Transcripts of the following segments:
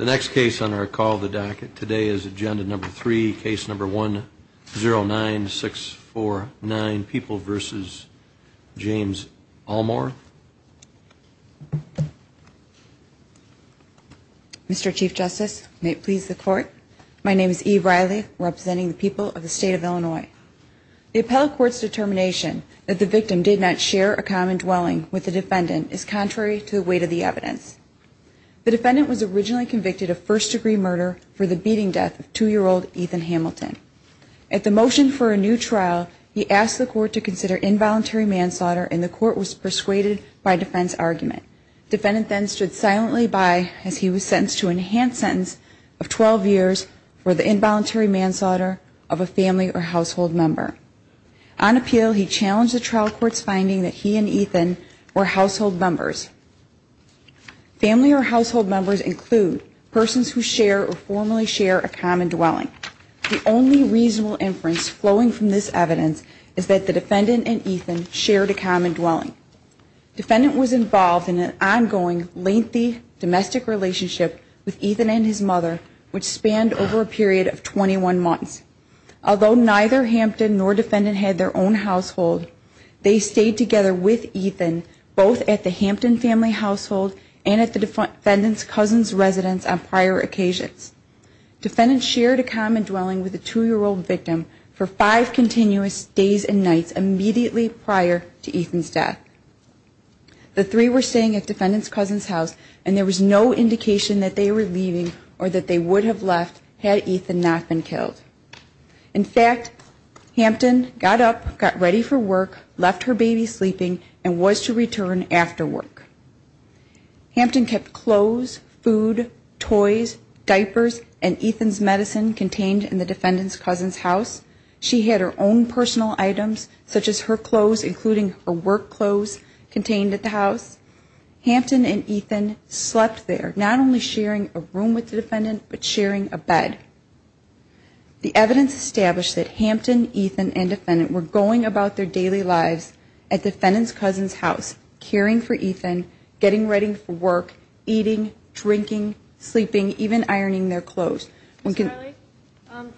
Mr. Chief Justice, may it please the Court, my name is Eve Riley, representing the people of the state of Illinois. The appellate court's determination that the victim did not share a common dwelling with the defendant is contrary to the weight of the evidence. The defendant was originally convicted of first-degree murder for the beating death of two-year-old Ethan Hamilton. At the motion for a new trial, he asked the Court to consider involuntary manslaughter, and the Court was persuaded by defense argument. The defendant then stood silently by as he was sentenced to a enhanced sentence of 12 years for the involuntary manslaughter of a family or household member. On appeal, he challenged the trial court's finding that he and Ethan were household members. Family or household members include persons who share or formerly share a common dwelling. The only reasonable inference flowing from this evidence is that the defendant and Ethan shared a common dwelling. The defendant was involved in an ongoing, lengthy domestic relationship with Ethan and his mother, which spanned over a period of 21 months. Although neither Hampton nor defendant had their own household, they stayed together with Ethan both at the Hampton family household and at the defendant's cousin's residence on prior occasions. Defendants shared a common dwelling with the two-year-old victim for five continuous days and nights immediately prior to Ethan's death. The three were staying at defendant's cousin's house, and there was no indication that they were leaving or that they would have left had Ethan not been killed. In fact, Hampton got up, got ready for work, left her baby sleeping, and was to return after work. Hampton kept clothes, food, toys, diapers, and Ethan's medicine contained in the defendant's cousin's house. She had her own personal items, such as her clothes, including her work clothes contained at the house. Hampton and Ethan slept there, not only sharing a room with the defendant, but sharing a bed. The evidence established that Hampton, Ethan, and defendant were going about their daily lives at defendant's cousin's house, caring for Ethan, getting ready for work, eating, drinking, sleeping, even ironing their clothes. Ms. Riley,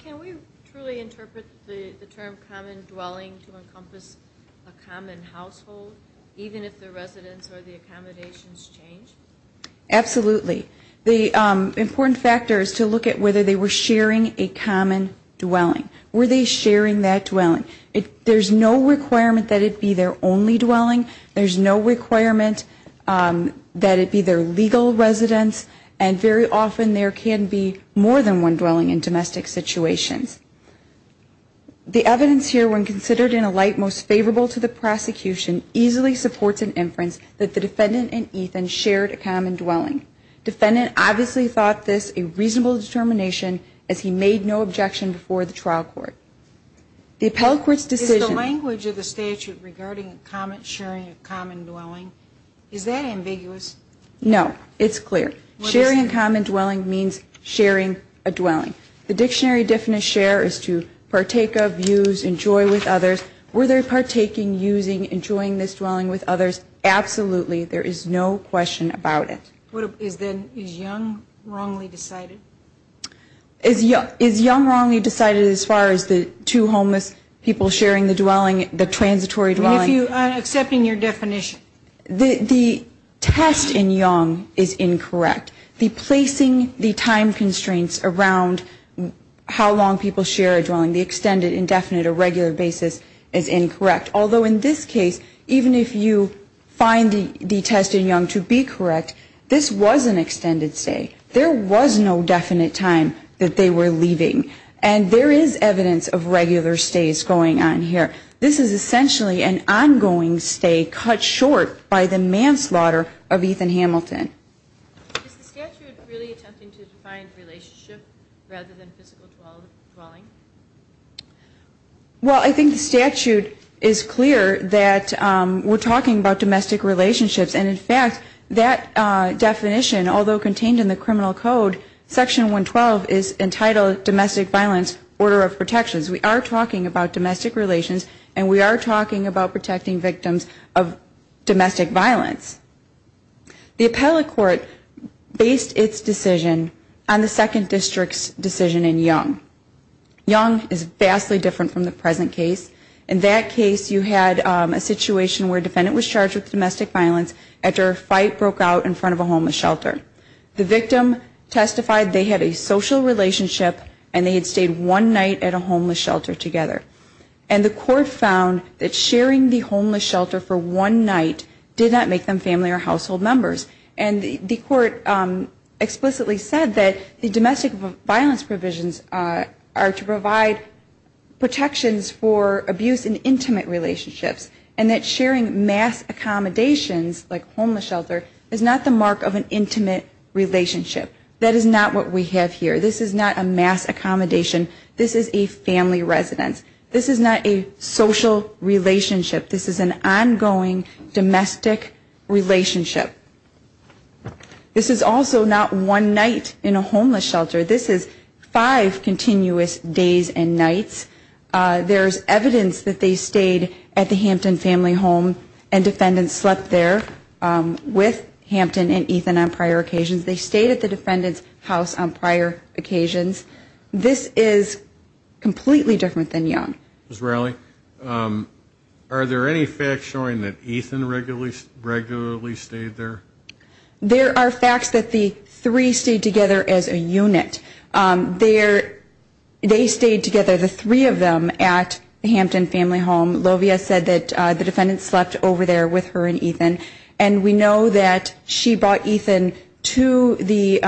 can we truly interpret the term common dwelling to encompass a common household, even if the residence or the accommodations change? Absolutely. The important factor is to look at whether they were sharing a common dwelling. Were they sharing that dwelling? There's no requirement that it be their only dwelling. There's no requirement that it be their legal residence. And very often there can be more than one dwelling in domestic situations. The evidence here, when considered in a light most favorable to the prosecution, easily supports an inference that the defendant and Ethan shared a common dwelling. Defendant obviously thought this a reasonable determination, as he made no objection before the trial court. Is the language of the statute regarding sharing a common dwelling, is that ambiguous? No. It's clear. Sharing a common dwelling means sharing a dwelling. The dictionary definition of share is to partake of, use, enjoy with others. Were they partaking, using, enjoying this dwelling with others? Absolutely. There is no question about it. Is young wrongly decided? Is young wrongly decided as far as the two homeless people sharing the dwelling, the transitory dwelling? I'm accepting your definition. The test in young is incorrect. The placing the time constraints around how long people share a dwelling, the extended, indefinite, or regular basis is incorrect. Although in this case, even if you find the test in young to be correct, this was an extended stay. There was no definite time that they were leaving. And there is evidence of regular stays going on here. This is essentially an ongoing stay cut short by the manslaughter of Ethan Hamilton. Is the statute really attempting to define relationship rather than physical dwelling? Well, I think the statute is clear that we're talking about domestic relationships. And, in fact, that definition, although contained in the criminal code, Section 112 is entitled domestic violence order of protections. We are talking about domestic relations, and we are talking about protecting victims of domestic violence. The appellate court based its decision on the Second District's decision in young. Young is vastly different from the present case. In that case, you had a situation where a defendant was charged with domestic violence after a fight broke out in front of a homeless shelter. The victim testified they had a social relationship, and they had stayed one night at a homeless shelter together. And the court found that sharing the homeless shelter for one night did not make them family or household members. And the court explicitly said that the domestic violence provisions are to provide protections for abuse in intimate relationships, and that sharing mass accommodations like homeless shelter is not the mark of an intimate relationship. That is not what we have here. This is not a mass accommodation. This is a family residence. This is not a social relationship. This is an ongoing domestic relationship. This is also not one night in a homeless shelter. This is five continuous days and nights. There is evidence that they stayed at the Hampton family home, and defendants slept there with Hampton and Ethan on prior occasions. They stayed at the defendant's house on prior occasions. This is completely different than Young. Ms. Rowley, are there any facts showing that Ethan regularly stayed there? There are facts that the three stayed together as a unit. They stayed together, the three of them, at the Hampton family home. Lovia said that the defendant slept over there with her and Ethan. And we know that she brought Ethan to the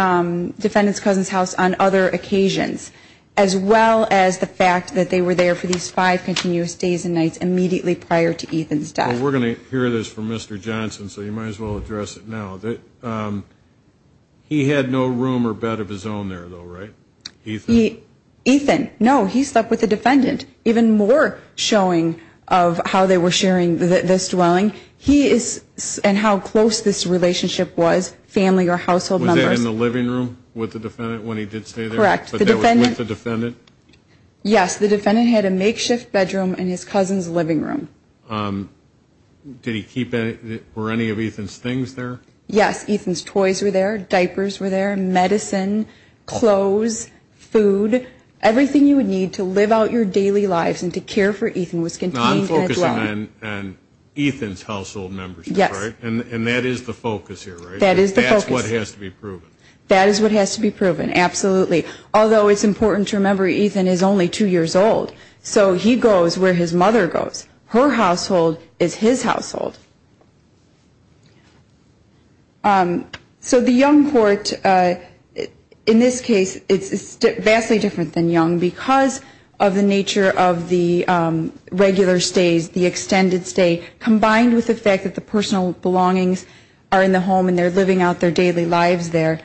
defendant's cousin's house on other occasions, as well as the fact that they were there for these five continuous days and nights immediately prior to Ethan's death. Well, we're going to hear this from Mr. Johnson, so you might as well address it now. He had no room or bed of his own there, though, right? Ethan? Ethan, no, he slept with the defendant. Even more showing of how they were sharing this dwelling, and how close this relationship was, family or household members. Was that in the living room with the defendant when he did stay there? Correct. But that was with the defendant? Yes, the defendant had a makeshift bedroom in his cousin's living room. Did he keep any of Ethan's things there? Yes, Ethan's toys were there, diapers were there, medicine, clothes, food. Everything you would need to live out your daily lives and to care for Ethan was contained as well. Non-focusing on Ethan's household members, right? Yes. And that is the focus here, right? That is the focus. That's what has to be proven. That is what has to be proven, absolutely. Although it's important to remember Ethan is only two years old, so he goes where his mother goes. Her household is his household. So the Young Court, in this case, is vastly different than Young because of the nature of the regular stays, the extended stay, combined with the fact that the personal belongings are in the home and they're living out their daily lives there.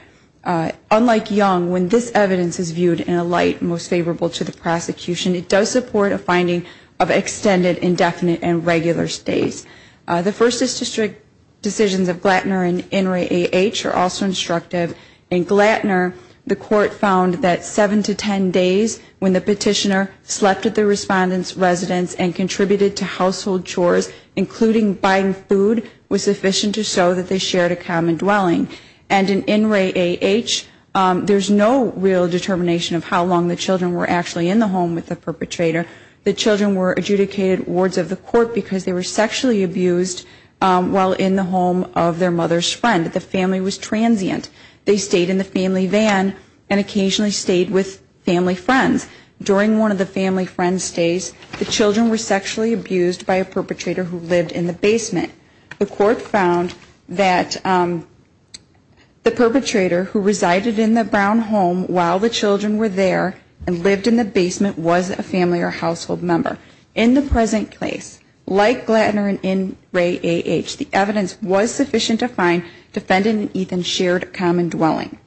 Unlike Young, when this evidence is viewed in a light most favorable to the prosecution, it does support a finding of extended, indefinite, and regular stays. The First District decisions of Glattner and In re AH are also instructive. In Glattner, the court found that seven to ten days when the petitioner slept at the respondent's residence and contributed to household chores, including buying food, was sufficient to show that they shared a common dwelling. And in In re AH, there's no real determination of how long the children were actually in the home with the perpetrator. The children were adjudicated wards of the court because they were sexually abused while in the home of their mother's friend. The family was transient. They stayed in the family van and occasionally stayed with family friends. During one of the family friend stays, the children were sexually abused by a perpetrator who lived in the basement. The court found that the perpetrator who resided in the brown home while the children were there and lived in the basement was a family or household member. In the present case, like Glattner and In re AH, the evidence was sufficient to find the defendant and Ethan shared a common dwelling.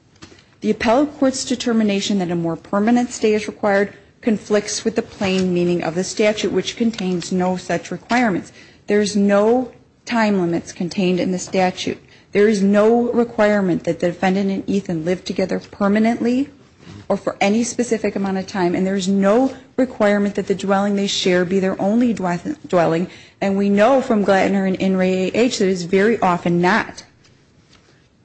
The appellate court's determination that a more permanent stay is required conflicts with the plain meaning of the statute, which contains no such requirements. There's no time limits contained in the statute. There is no requirement that the defendant and Ethan live together permanently or for any specific amount of time. And there's no requirement that the dwelling they share be their only dwelling. And we know from Glattner and In re AH that it's very often not.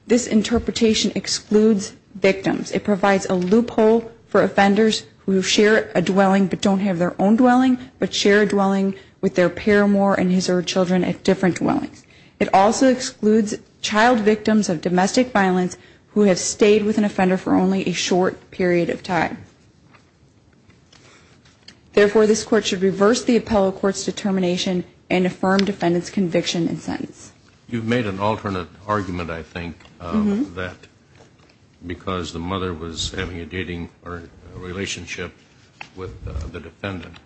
This interpretation excludes victims. It provides a loophole for offenders who share a dwelling but don't have their own dwelling, but share a dwelling with their paramour and his or her children at different dwellings. It also excludes child victims of domestic violence who have stayed with an offender for only a short period of time. Therefore, this court should reverse the appellate court's determination and affirm defendant's conviction and sentence. You've made an alternate argument, I think, that because the mother was having a dating relationship with the defendant.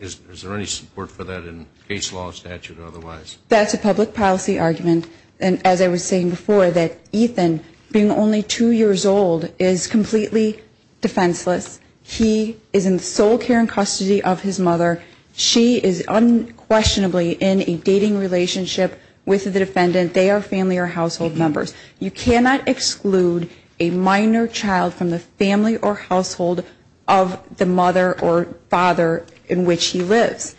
Is there any support for that in case law, statute, or otherwise? That's a public policy argument. And as I was saying before, that Ethan, being only two years old, is completely defenseless. He is in the sole care and custody of his mother. She is unquestionably in a dating relationship with the defendant. They are family or household members. You cannot exclude a minor child from the family or household of the mother or father in which he lives.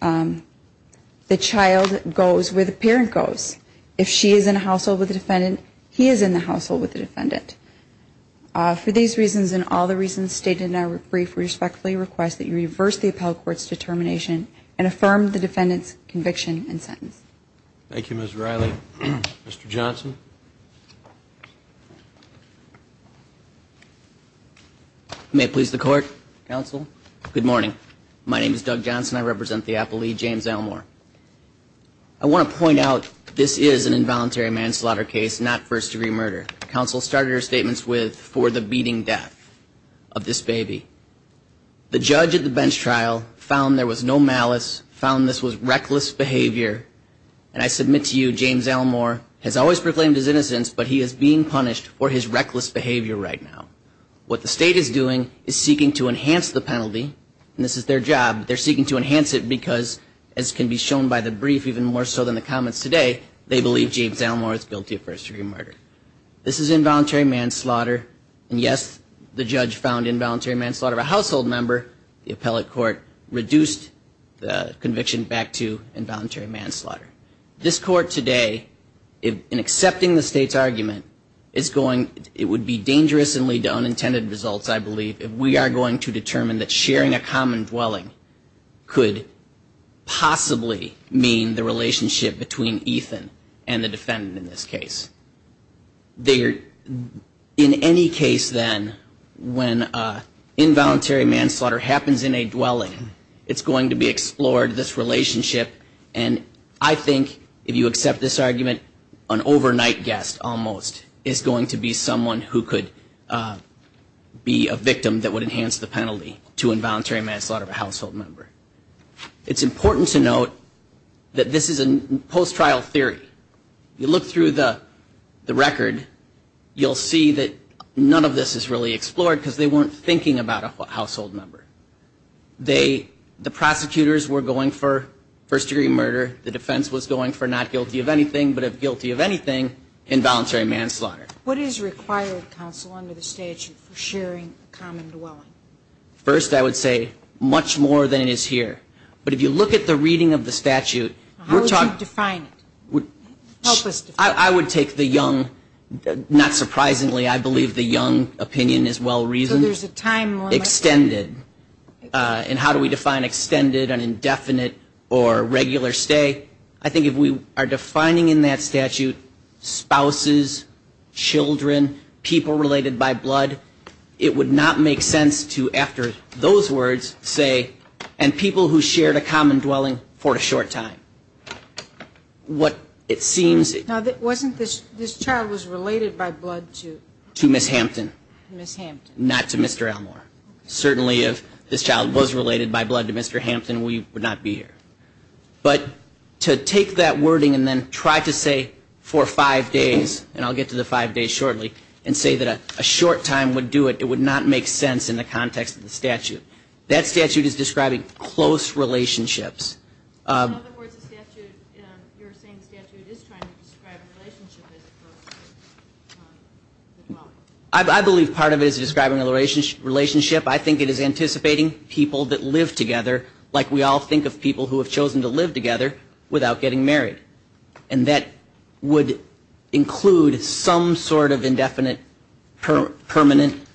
The child goes where the parent goes. If she is in a household with the defendant, he is in the household with the defendant. For these reasons and all the reasons stated in our brief, we respectfully request that you reverse the appellate court's determination and affirm the defendant's conviction and sentence. Thank you, Ms. Riley. Mr. Johnson. May it please the Court, Counsel. Good morning. My name is Doug Johnson. I represent the appellee, James Elmore. I want to point out, this is an involuntary manslaughter case, not first-degree murder. Counsel started her statements with, for the beating death of this baby. The judge at the bench trial found there was no malice, found this was reckless behavior. And I submit to you, James Elmore has always proclaimed his innocence, but he is being punished for his reckless behavior right now. What the state is doing is seeking to enhance the penalty, and this is their job. They're seeking to enhance it because, as can be shown by the brief even more so than the comments today, they believe James Elmore is guilty of first-degree murder. This is involuntary manslaughter, and yes, the judge found involuntary manslaughter of a household member. The appellate court reduced the conviction back to involuntary manslaughter. This Court today, in accepting the state's argument, is going, it would be dangerous and lead to unintended results, I believe, if we are going to determine that sharing a common dwelling could possibly mean the relationship between Ethan and the defendant in this case. In any case, then, when involuntary manslaughter happens in a dwelling, it's going to be explored, this relationship, and I think, if you accept this argument, an overnight guest, almost, is going to be someone who could be a victim that would enhance the penalty to involuntary manslaughter of a household member. It's important to note that this is a post-trial theory. You look through the record, you'll see that none of this is really explored, because they weren't thinking about a household member. The prosecutors were going for first-degree murder, the defense was going for not guilty of anything, but if guilty of anything, involuntary manslaughter. What is required, counsel, under the statute for sharing a common dwelling? First, I would say, much more than it is here. But if you look at the reading of the statute. I would take the young, not surprisingly, I believe the young opinion is well-reasoned. Extended. And how do we define extended, an indefinite, or regular stay? I think if we are defining in that statute spouses, children, people related by blood, it would not make sense to, after those words, say, and people who shared a common dwelling for a short time. Now, wasn't this child was related by blood to? To Ms. Hampton. Not to Mr. Elmore. Certainly, if this child was related by blood to Mr. Hampton, we would not be here. But to take that wording and then try to say, for five days, and I'll get to the five days shortly, and say that a short time would do it, it would not make sense in the context of the statute. That statute is describing close relationships. I believe part of it is describing a relationship. I think it is anticipating people that live together, like we all think of people who have chosen to live together without getting married. And that would include some sort of indefinite, permanent,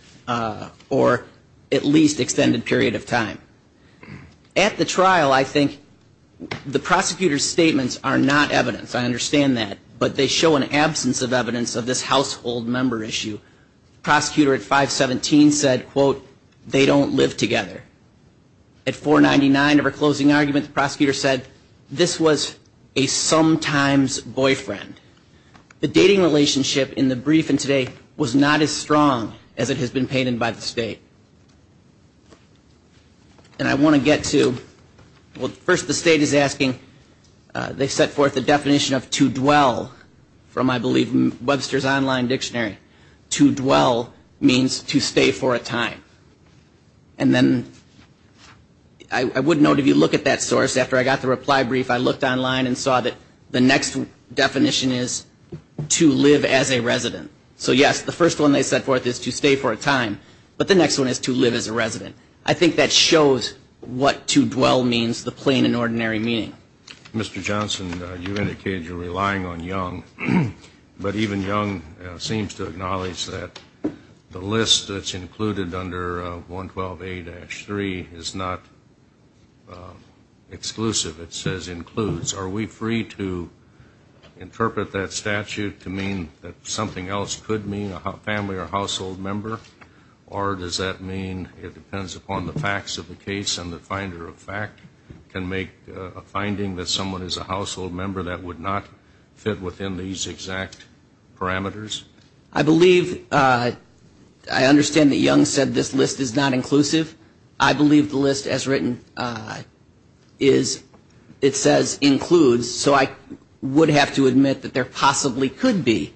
or at least extended period of time. At the trial, I think the prosecutor's statements are not evidence. I understand that. But they show an absence of evidence of this household member issue. The prosecutor at 517 said, quote, they don't live together. At 499 of her closing argument, the prosecutor said, this was a sometimes boyfriend. The dating relationship in the brief in today was not as strong as it has been painted by the state. And I want to get to, well, first the state is asking, they set forth the definition of to dwell from, I believe, Webster's online dictionary. To dwell means to stay for a time. And then I would note, if you look at that source, after I got the reply brief, I looked online and saw that the next definition is to live as a resident. So, yes, the first one they set forth is to stay for a time. But the next one is to live as a resident. I think that shows what to dwell means, the plain and ordinary meaning. Mr. Johnson, you indicated you're relying on Young. But even Young seems to acknowledge that the list that's included under 112A-3 is not exclusive. It says includes. Are we free to interpret that statute to mean that something else could mean a family or household member? Or does that mean it depends upon the facts of the case and the finder of fact can make a finding that someone is a household member that would not fit within these exact parameters? I believe, I understand that Young said this list is not inclusive. I believe the list as written is, it says includes. So I would have to admit that there possibly could be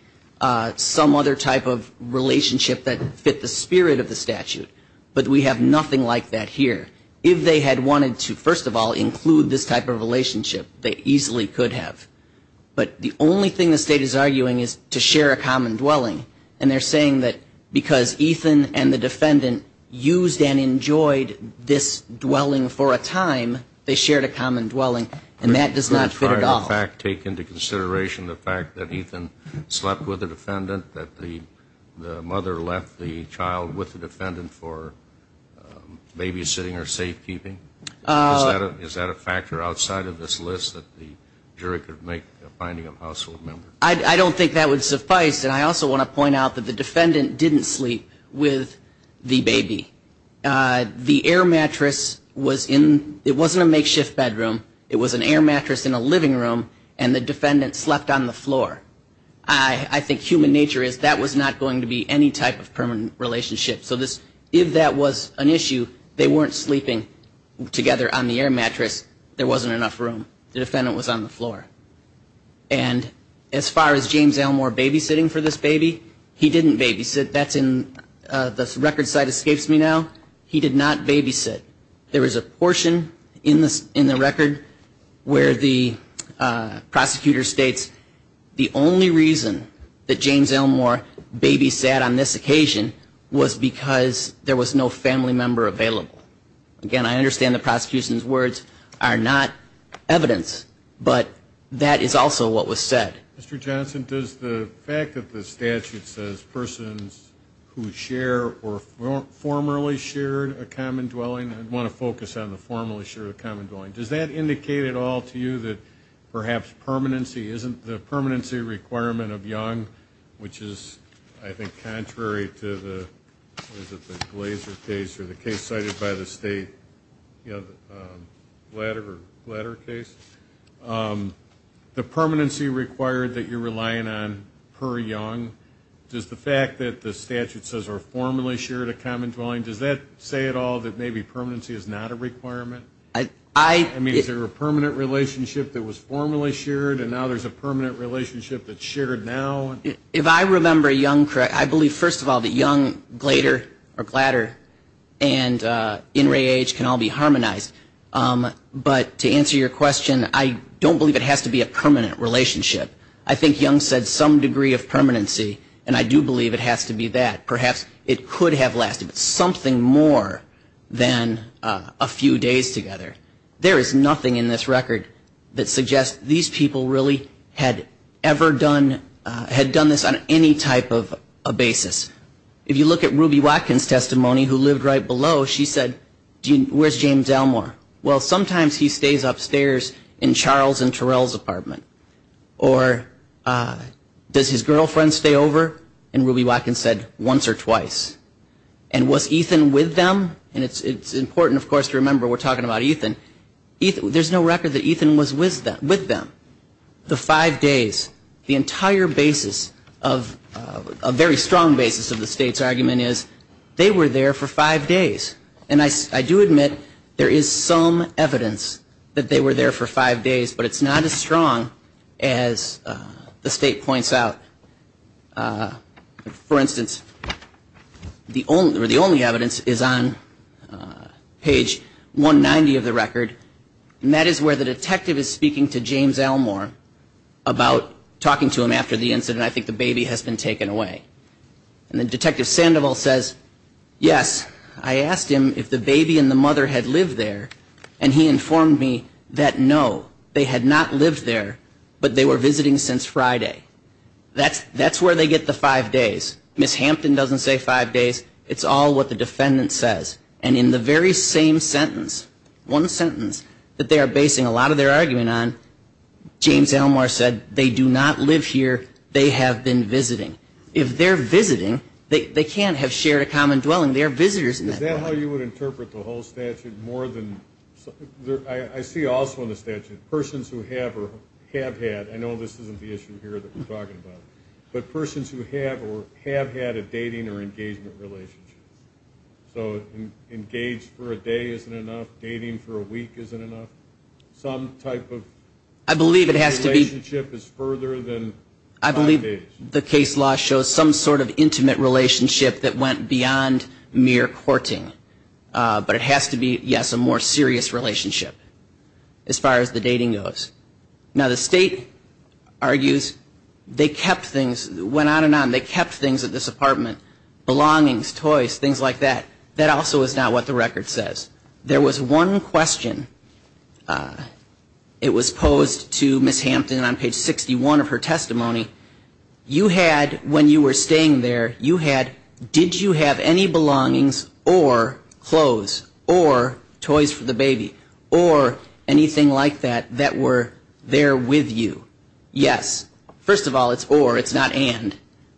some other type of relationship that fit the spirit of the statute. But we have nothing like that here. And I'm not saying that's the only relationship they easily could have. But the only thing the State is arguing is to share a common dwelling. And they're saying that because Ethan and the defendant used and enjoyed this dwelling for a time, they shared a common dwelling, and that does not fit at all. Did the prior fact take into consideration the fact that Ethan slept with a defendant, or is this a list that the jury could make a finding of a household member? I don't think that would suffice. And I also want to point out that the defendant didn't sleep with the baby. The air mattress was in, it wasn't a makeshift bedroom, it was an air mattress in a living room, and the defendant slept on the floor. I think human nature is that was not going to be any type of permanent relationship. So if that was an issue, they weren't sleeping together on the air mattress. There wasn't enough room. The defendant was on the floor. And as far as James Elmore babysitting for this baby, he didn't babysit. That's in, the record site escapes me now, he did not babysit. There is a portion in the record where the prosecutor states the only reason that James Elmore babysat on this occasion was because there was no family member available. Again, I understand the prosecution's words are not evidence, but that is also what was said. Mr. Johnson, does the fact that the statute says persons who share or formerly shared a common dwelling, I want to focus on the formerly shared common dwelling, does that indicate at all to you that perhaps permanency, isn't the permanency requirement of Young, which is I think contrary to the Glaser case or the case cited by the state, Glader case, the permanency required that you're relying on per Young, does the fact that the statute says or formerly shared a common dwelling, does that say at all that maybe permanency is not a requirement? I mean, is there a permanent relationship that was formerly shared and now there's a permanent relationship that's shared now? If I remember Young correct, I believe first of all that Young, Glader, or Glader, and In Re Age can all be harmonized. But to answer your question, I don't believe it has to be a permanent relationship. I think Young said some degree of permanency, and I do believe it has to be that. Perhaps it could have lasted something more than a few days together. There is nothing in this record that suggests these people really had ever done this on any type of basis. If you look at Ruby Watkins' testimony, who lived right below, she said, where's James Elmore? Well, sometimes he stays upstairs in Charles and Terrell's apartment. Or does his girlfriend stay over? And Ruby Watkins said, once or twice. And was Ethan with them? And it's important, of course, to remember we're talking about Ethan. There's no record that Ethan was with them the five days. The entire basis of a very strong basis of the state's argument is they were there for five days. And I do admit there is some evidence that they were there for five days, but it's not as strong as the state points out. For instance, the only evidence is on page 190 of the record. And that is where the detective is speaking to James Elmore about talking to him after the incident. I think the baby has been taken away. And then Detective Sandoval says, yes, I asked him if the baby and the mother had lived there. And he informed me that no, they had not lived there, but they were visiting since Friday. That's where they get the five days. Ms. Hampton doesn't say five days. It's all what the defendant says. And in the very same sentence, one sentence that they are basing a lot of their argument on, James Elmore said they do not live here. They have been visiting. If they are visiting, they can't have shared a common dwelling. They are visitors. Is that how you would interpret the whole statute? I see also in the statute persons who have or have had. I know this isn't the issue here that we're talking about. But persons who have or have had a dating or engagement relationship. So engaged for a day isn't enough, dating for a week isn't enough. Some type of relationship is further than five days. I believe the case law shows some sort of intimate relationship that went beyond mere courting. But it has to be, yes, a more serious relationship as far as the dating goes. Now, the state argues they kept things, went on and on. They kept things at this apartment. Belongings, toys, things like that. That also is not what the record says. There was one question it was posed to Ms. Hampton on page 61 of her testimony. You had, when you were staying there, you had, did you have any belongings or clothes or toys for the baby? Or anything like that that were there with you? Yes. First of all, it's or, it's not and.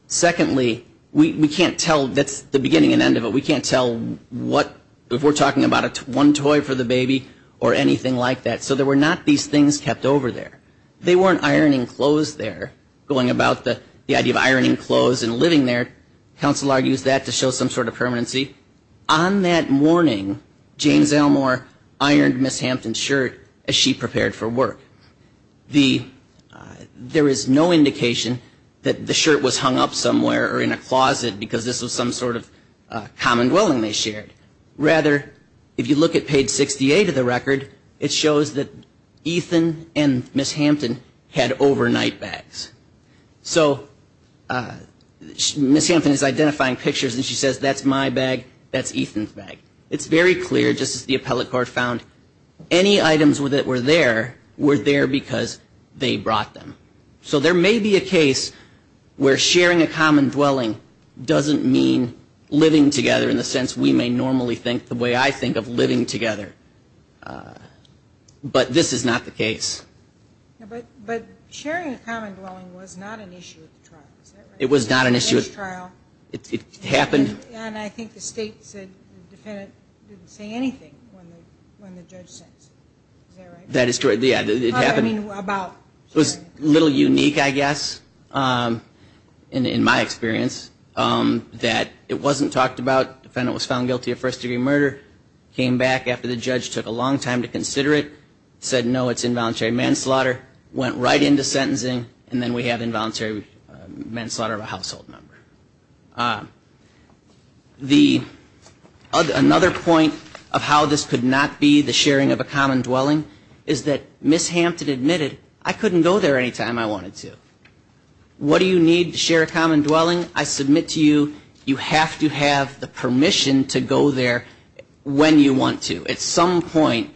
Secondly, we can't tell, that's the beginning and end of it, we can't tell if we're talking about one toy for the baby or anything like that. If we're talking about the idea of ironing clothes and living there, counsel argues that to show some sort of permanency. On that morning, James Elmore ironed Ms. Hampton's shirt as she prepared for work. There is no indication that the shirt was hung up somewhere or in a closet because this was some sort of common dwelling they shared. Rather, if you look at page 68 of the record, it shows that Ethan and Ms. Hampton had overnight bags. So Ms. Hampton is identifying pictures and she says, that's my bag, that's Ethan's bag. It's very clear, just as the appellate court found, any items that were there, were there because they brought them. So there may be a case where sharing a common dwelling doesn't mean living together in the sense we may normally think the way I think of living together. But this is not the case. But sharing a common dwelling was not an issue at the trial, is that right? It was not an issue at the trial. It happened. And I think the state said the defendant didn't say anything when the judge sent it, is that right? That is correct, yeah, it happened. It was a little unique, I guess, in my experience, that it wasn't talked about. The defendant was found guilty of first-degree murder, came back after the judge took a long time to consider it, said no, it's involuntary manslaughter, went right into sentencing, and then we have involuntary manslaughter of a household member. Another point of how this could not be the sharing of a common dwelling is that Ms. Hampton admitted that she had a common dwelling. She admitted, I couldn't go there any time I wanted to. What do you need to share a common dwelling? I submit to you, you have to have the permission to go there when you want to. At some point,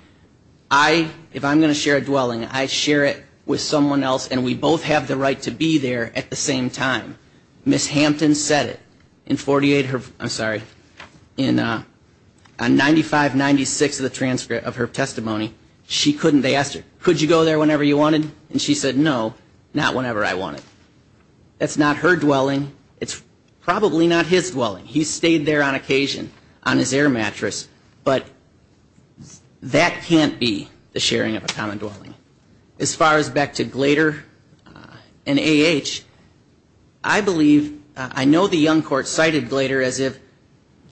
I, if I'm going to share a dwelling, I share it with someone else, and we both have the right to be there at the same time. Ms. Hampton said it in 48, I'm sorry, in 95-96 of the transcript of her testimony. She couldn't, they asked her, could you go there whenever you wanted? And she said, no, not whenever I wanted. That's not her dwelling. It's probably not his dwelling. He stayed there on occasion on his air mattress. But that can't be the sharing of a common dwelling. As far as back to Glader and A.H., I believe, I know the young court cited Glader as if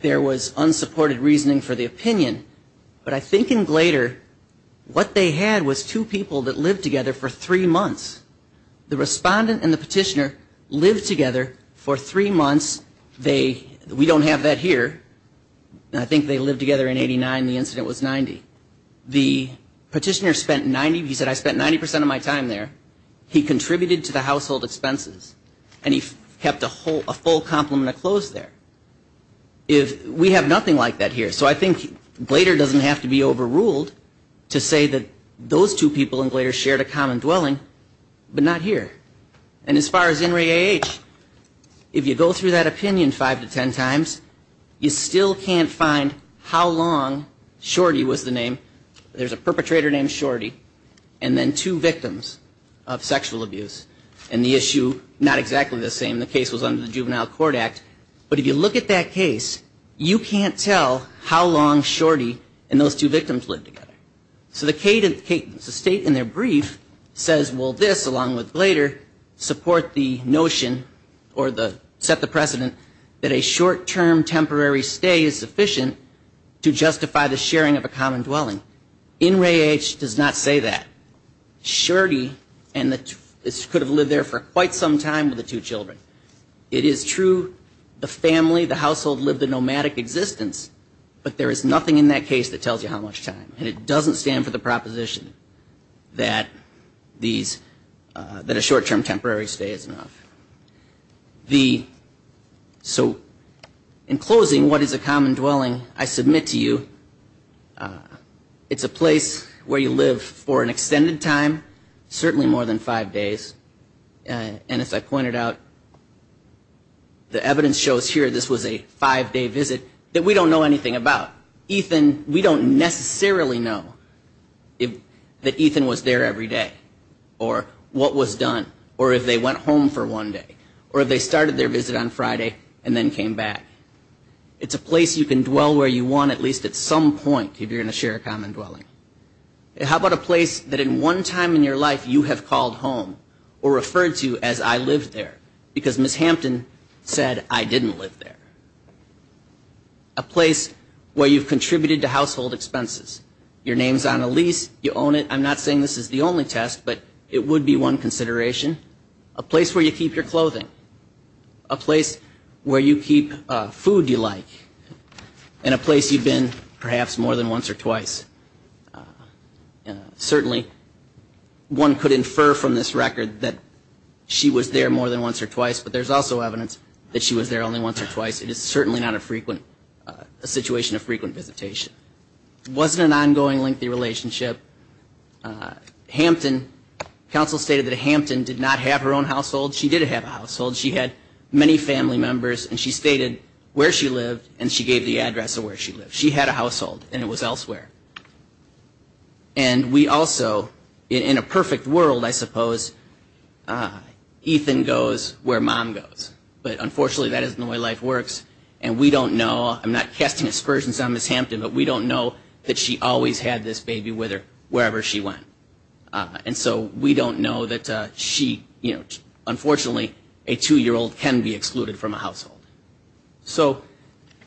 there was unsupported reasoning for the opinion, but I think in Glader, what they had was two people that lived together for three months. The respondent and the petitioner lived together for three months. We don't have that here. I think they lived together in 89, the incident was 90. The petitioner spent 90, he said, I spent 90% of my time there. He contributed to the household expenses, and he kept a full complement of clothes there. We have nothing like that here. So I think Glader doesn't have to be overruled to say that those two people in Glader shared a common dwelling, but not here. And as far as in Ray A.H., if you go through that opinion five to ten times, you still can't find how long Shorty was the name. There's a perpetrator named Shorty, and then two victims of sexual abuse. And the issue, not exactly the same, the case was under the Juvenile Court Act. But if you look at that case, you can't tell how long Shorty and those two victims lived together. So the state in their brief says, well, this, along with Glader, support the notion or set the precedent that a short-term temporary stay is sufficient to justify the sharing of a common dwelling. In Ray A.H. does not say that. Shorty could have lived there for quite some time with the two children. It is true the family, the household, lived a nomadic existence, but there is nothing in that case that tells you how much time. And it doesn't stand for the proposition that a short-term temporary stay is enough. The, so in closing, what is a common dwelling, I submit to you, it's a place where you live for an extended time, certainly more than five days. And as I pointed out, the evidence shows here this was a five-day visit that we don't know anything about. Ethan, we don't necessarily know that Ethan was there every day or what was done or if they went home for one day or if they started their visit on Friday and then came back. It's a place you can dwell where you want, at least at some point, if you're going to share a common dwelling. How about a place that in one time in your life you have called home or referred to as I lived there, because Ms. Hampton said I didn't live there. A place where you've contributed to household expenses. Your name's on a lease, you own it. I'm not saying this is the only test, but it would be one consideration. A place where you keep your clothing. A place where you keep food you like. And a place you've been perhaps more than once or twice. Certainly, one could infer from this record that she was there more than once or twice, but there's also evidence that she was there only once or twice. It is certainly not a frequent, a situation of frequent visitation. It wasn't an ongoing, lengthy relationship. Hampton, counsel stated that Hampton did not have her own household. She did have a household. She had many family members, and she stated where she lived, and she gave the address of where she lived. She had a household, and it was elsewhere. And we also, in a perfect world, I suppose, Ethan goes where mom goes. But unfortunately, that isn't the way life works, and we don't know. I'm not casting aspersions on Ms. Hampton, but we don't know that she always had this baby with her wherever she went. And so we don't know that she, you know, unfortunately, a two-year-old can be excluded from a household. So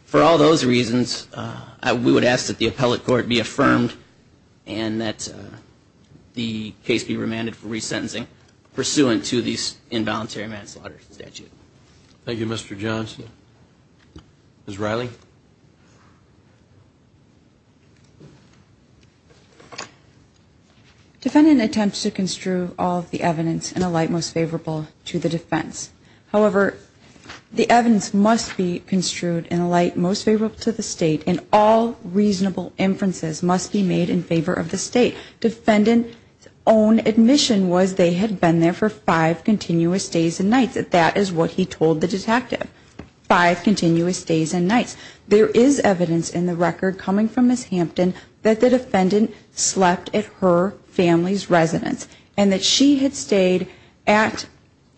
for all those reasons, we would ask that the appellate court be affirmed, and that the case be remanded for resentencing pursuant to the involuntary manslaughter statute. Thank you, Mr. Johnson. Ms. Riley. Defendant attempts to construe all of the evidence in a light most favorable to the defense. However, the evidence must be construed in a light most favorable to the State, and all reasonable inferences must be made in favor of the State. Defendant's own admission was they had been there for five continuous days and nights. That is what he told the detective, five continuous days and nights. There is evidence in the record coming from Ms. Hampton that the defendant slept at her family's residence, and that she had stayed at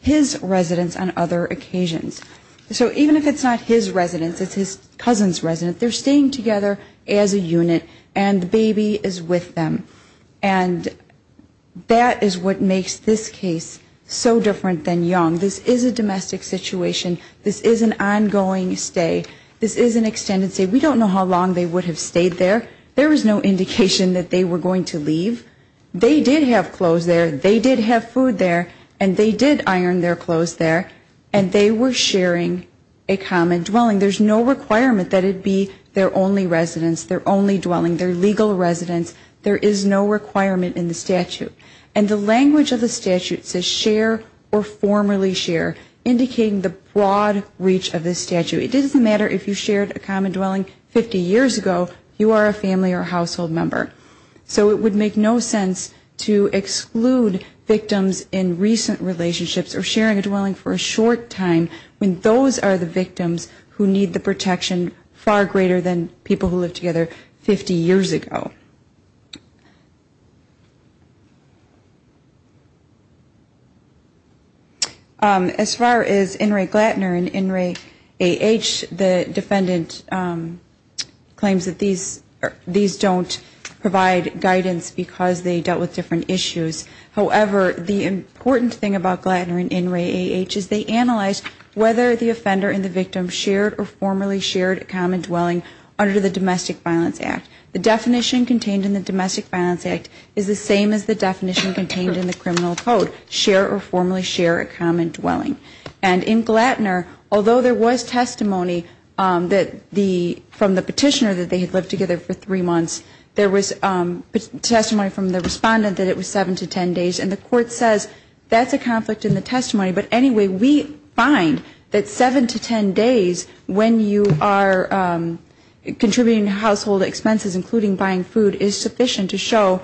his residence on other occasions. So even if it's not his residence, it's his cousin's residence, they're staying together as a unit, and the baby is with them. And that is what makes this case so different than Young. This is a domestic situation. This is an ongoing stay. This is an extended stay. We don't know how long they would have stayed there. There was no indication that they were going to leave. They did have clothes there, they did have food there, and they did iron their clothes there, and they were sharing a common dwelling. There's no requirement that it be their only residence, their only dwelling, their legal residence. There is no requirement in the statute. And the language of the statute says share or formerly share, indicating the broad reach of this statute. It doesn't matter if you shared a common dwelling 50 years ago, you are a family or household member. So it would make no sense to exclude victims in recent relationships or sharing a dwelling for a short time when those are the victims who need the protection far greater than people who lived together 50 years ago. As far as INRAE-Glatner and INRAE-AH, the defendant claims that these don't provide guidance because they dealt with different issues. However, the important thing about Glatner and INRAE-AH is they analyze whether the offender and the victim shared or formerly shared a common dwelling under the Domestic Violence Act. The definition contained in the Domestic Violence Act is the same as the definition contained in the criminal code, share or formerly share a common dwelling. And in Glatner, although there was testimony that the, from the petitioner that they had lived together for three months, there was testimony from the respondent that it was seven to ten days. And the court says that's a conflict in the testimony, but anyway, we find that seven to ten days when you are contributing to household expenses, including buying food, is sufficient to show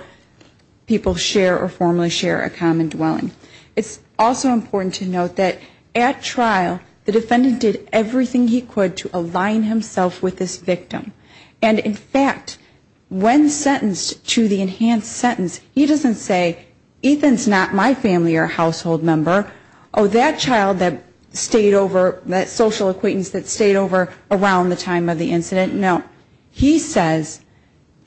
people share or formerly share a common dwelling. It's also important to note that at trial, the defendant did everything he could to align himself with this victim. And in fact, when sentenced to the enhanced sentence, he doesn't say, Ethan's not my family or household member, oh, that child that stayed over, that social acquaintance that stayed over around the time of the incident, no. He says,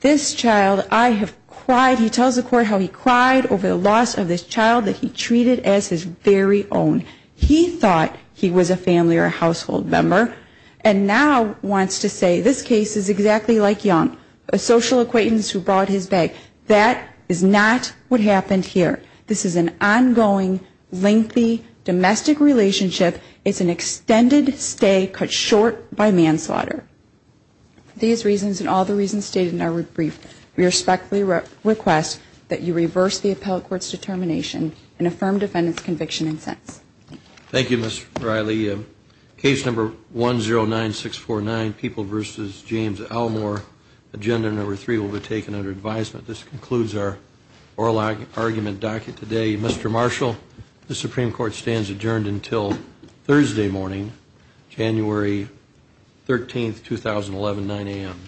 this child, I have cried, he tells the court how he cried over the loss of this child that he treated as his very own. He thought he was a family or a household member, and now wants to say this case is exactly like Young, a social acquaintance who brought his bag. That is not what happened here. This is an ongoing, lengthy domestic relationship. It's an extended stay cut short by manslaughter. For these reasons and all the reasons stated in our brief, we respectfully request that you reverse the appellate court's determination and affirm defendant's conviction and sentence. Thank you, Ms. Riley. Case number 109649, People v. James Elmore. Agenda number three will be taken under advisement. This concludes our oral argument docket today. Mr. Marshall, the Supreme Court stands adjourned until the next hearing. Thursday morning, January 13th, 2011, 9 a.m.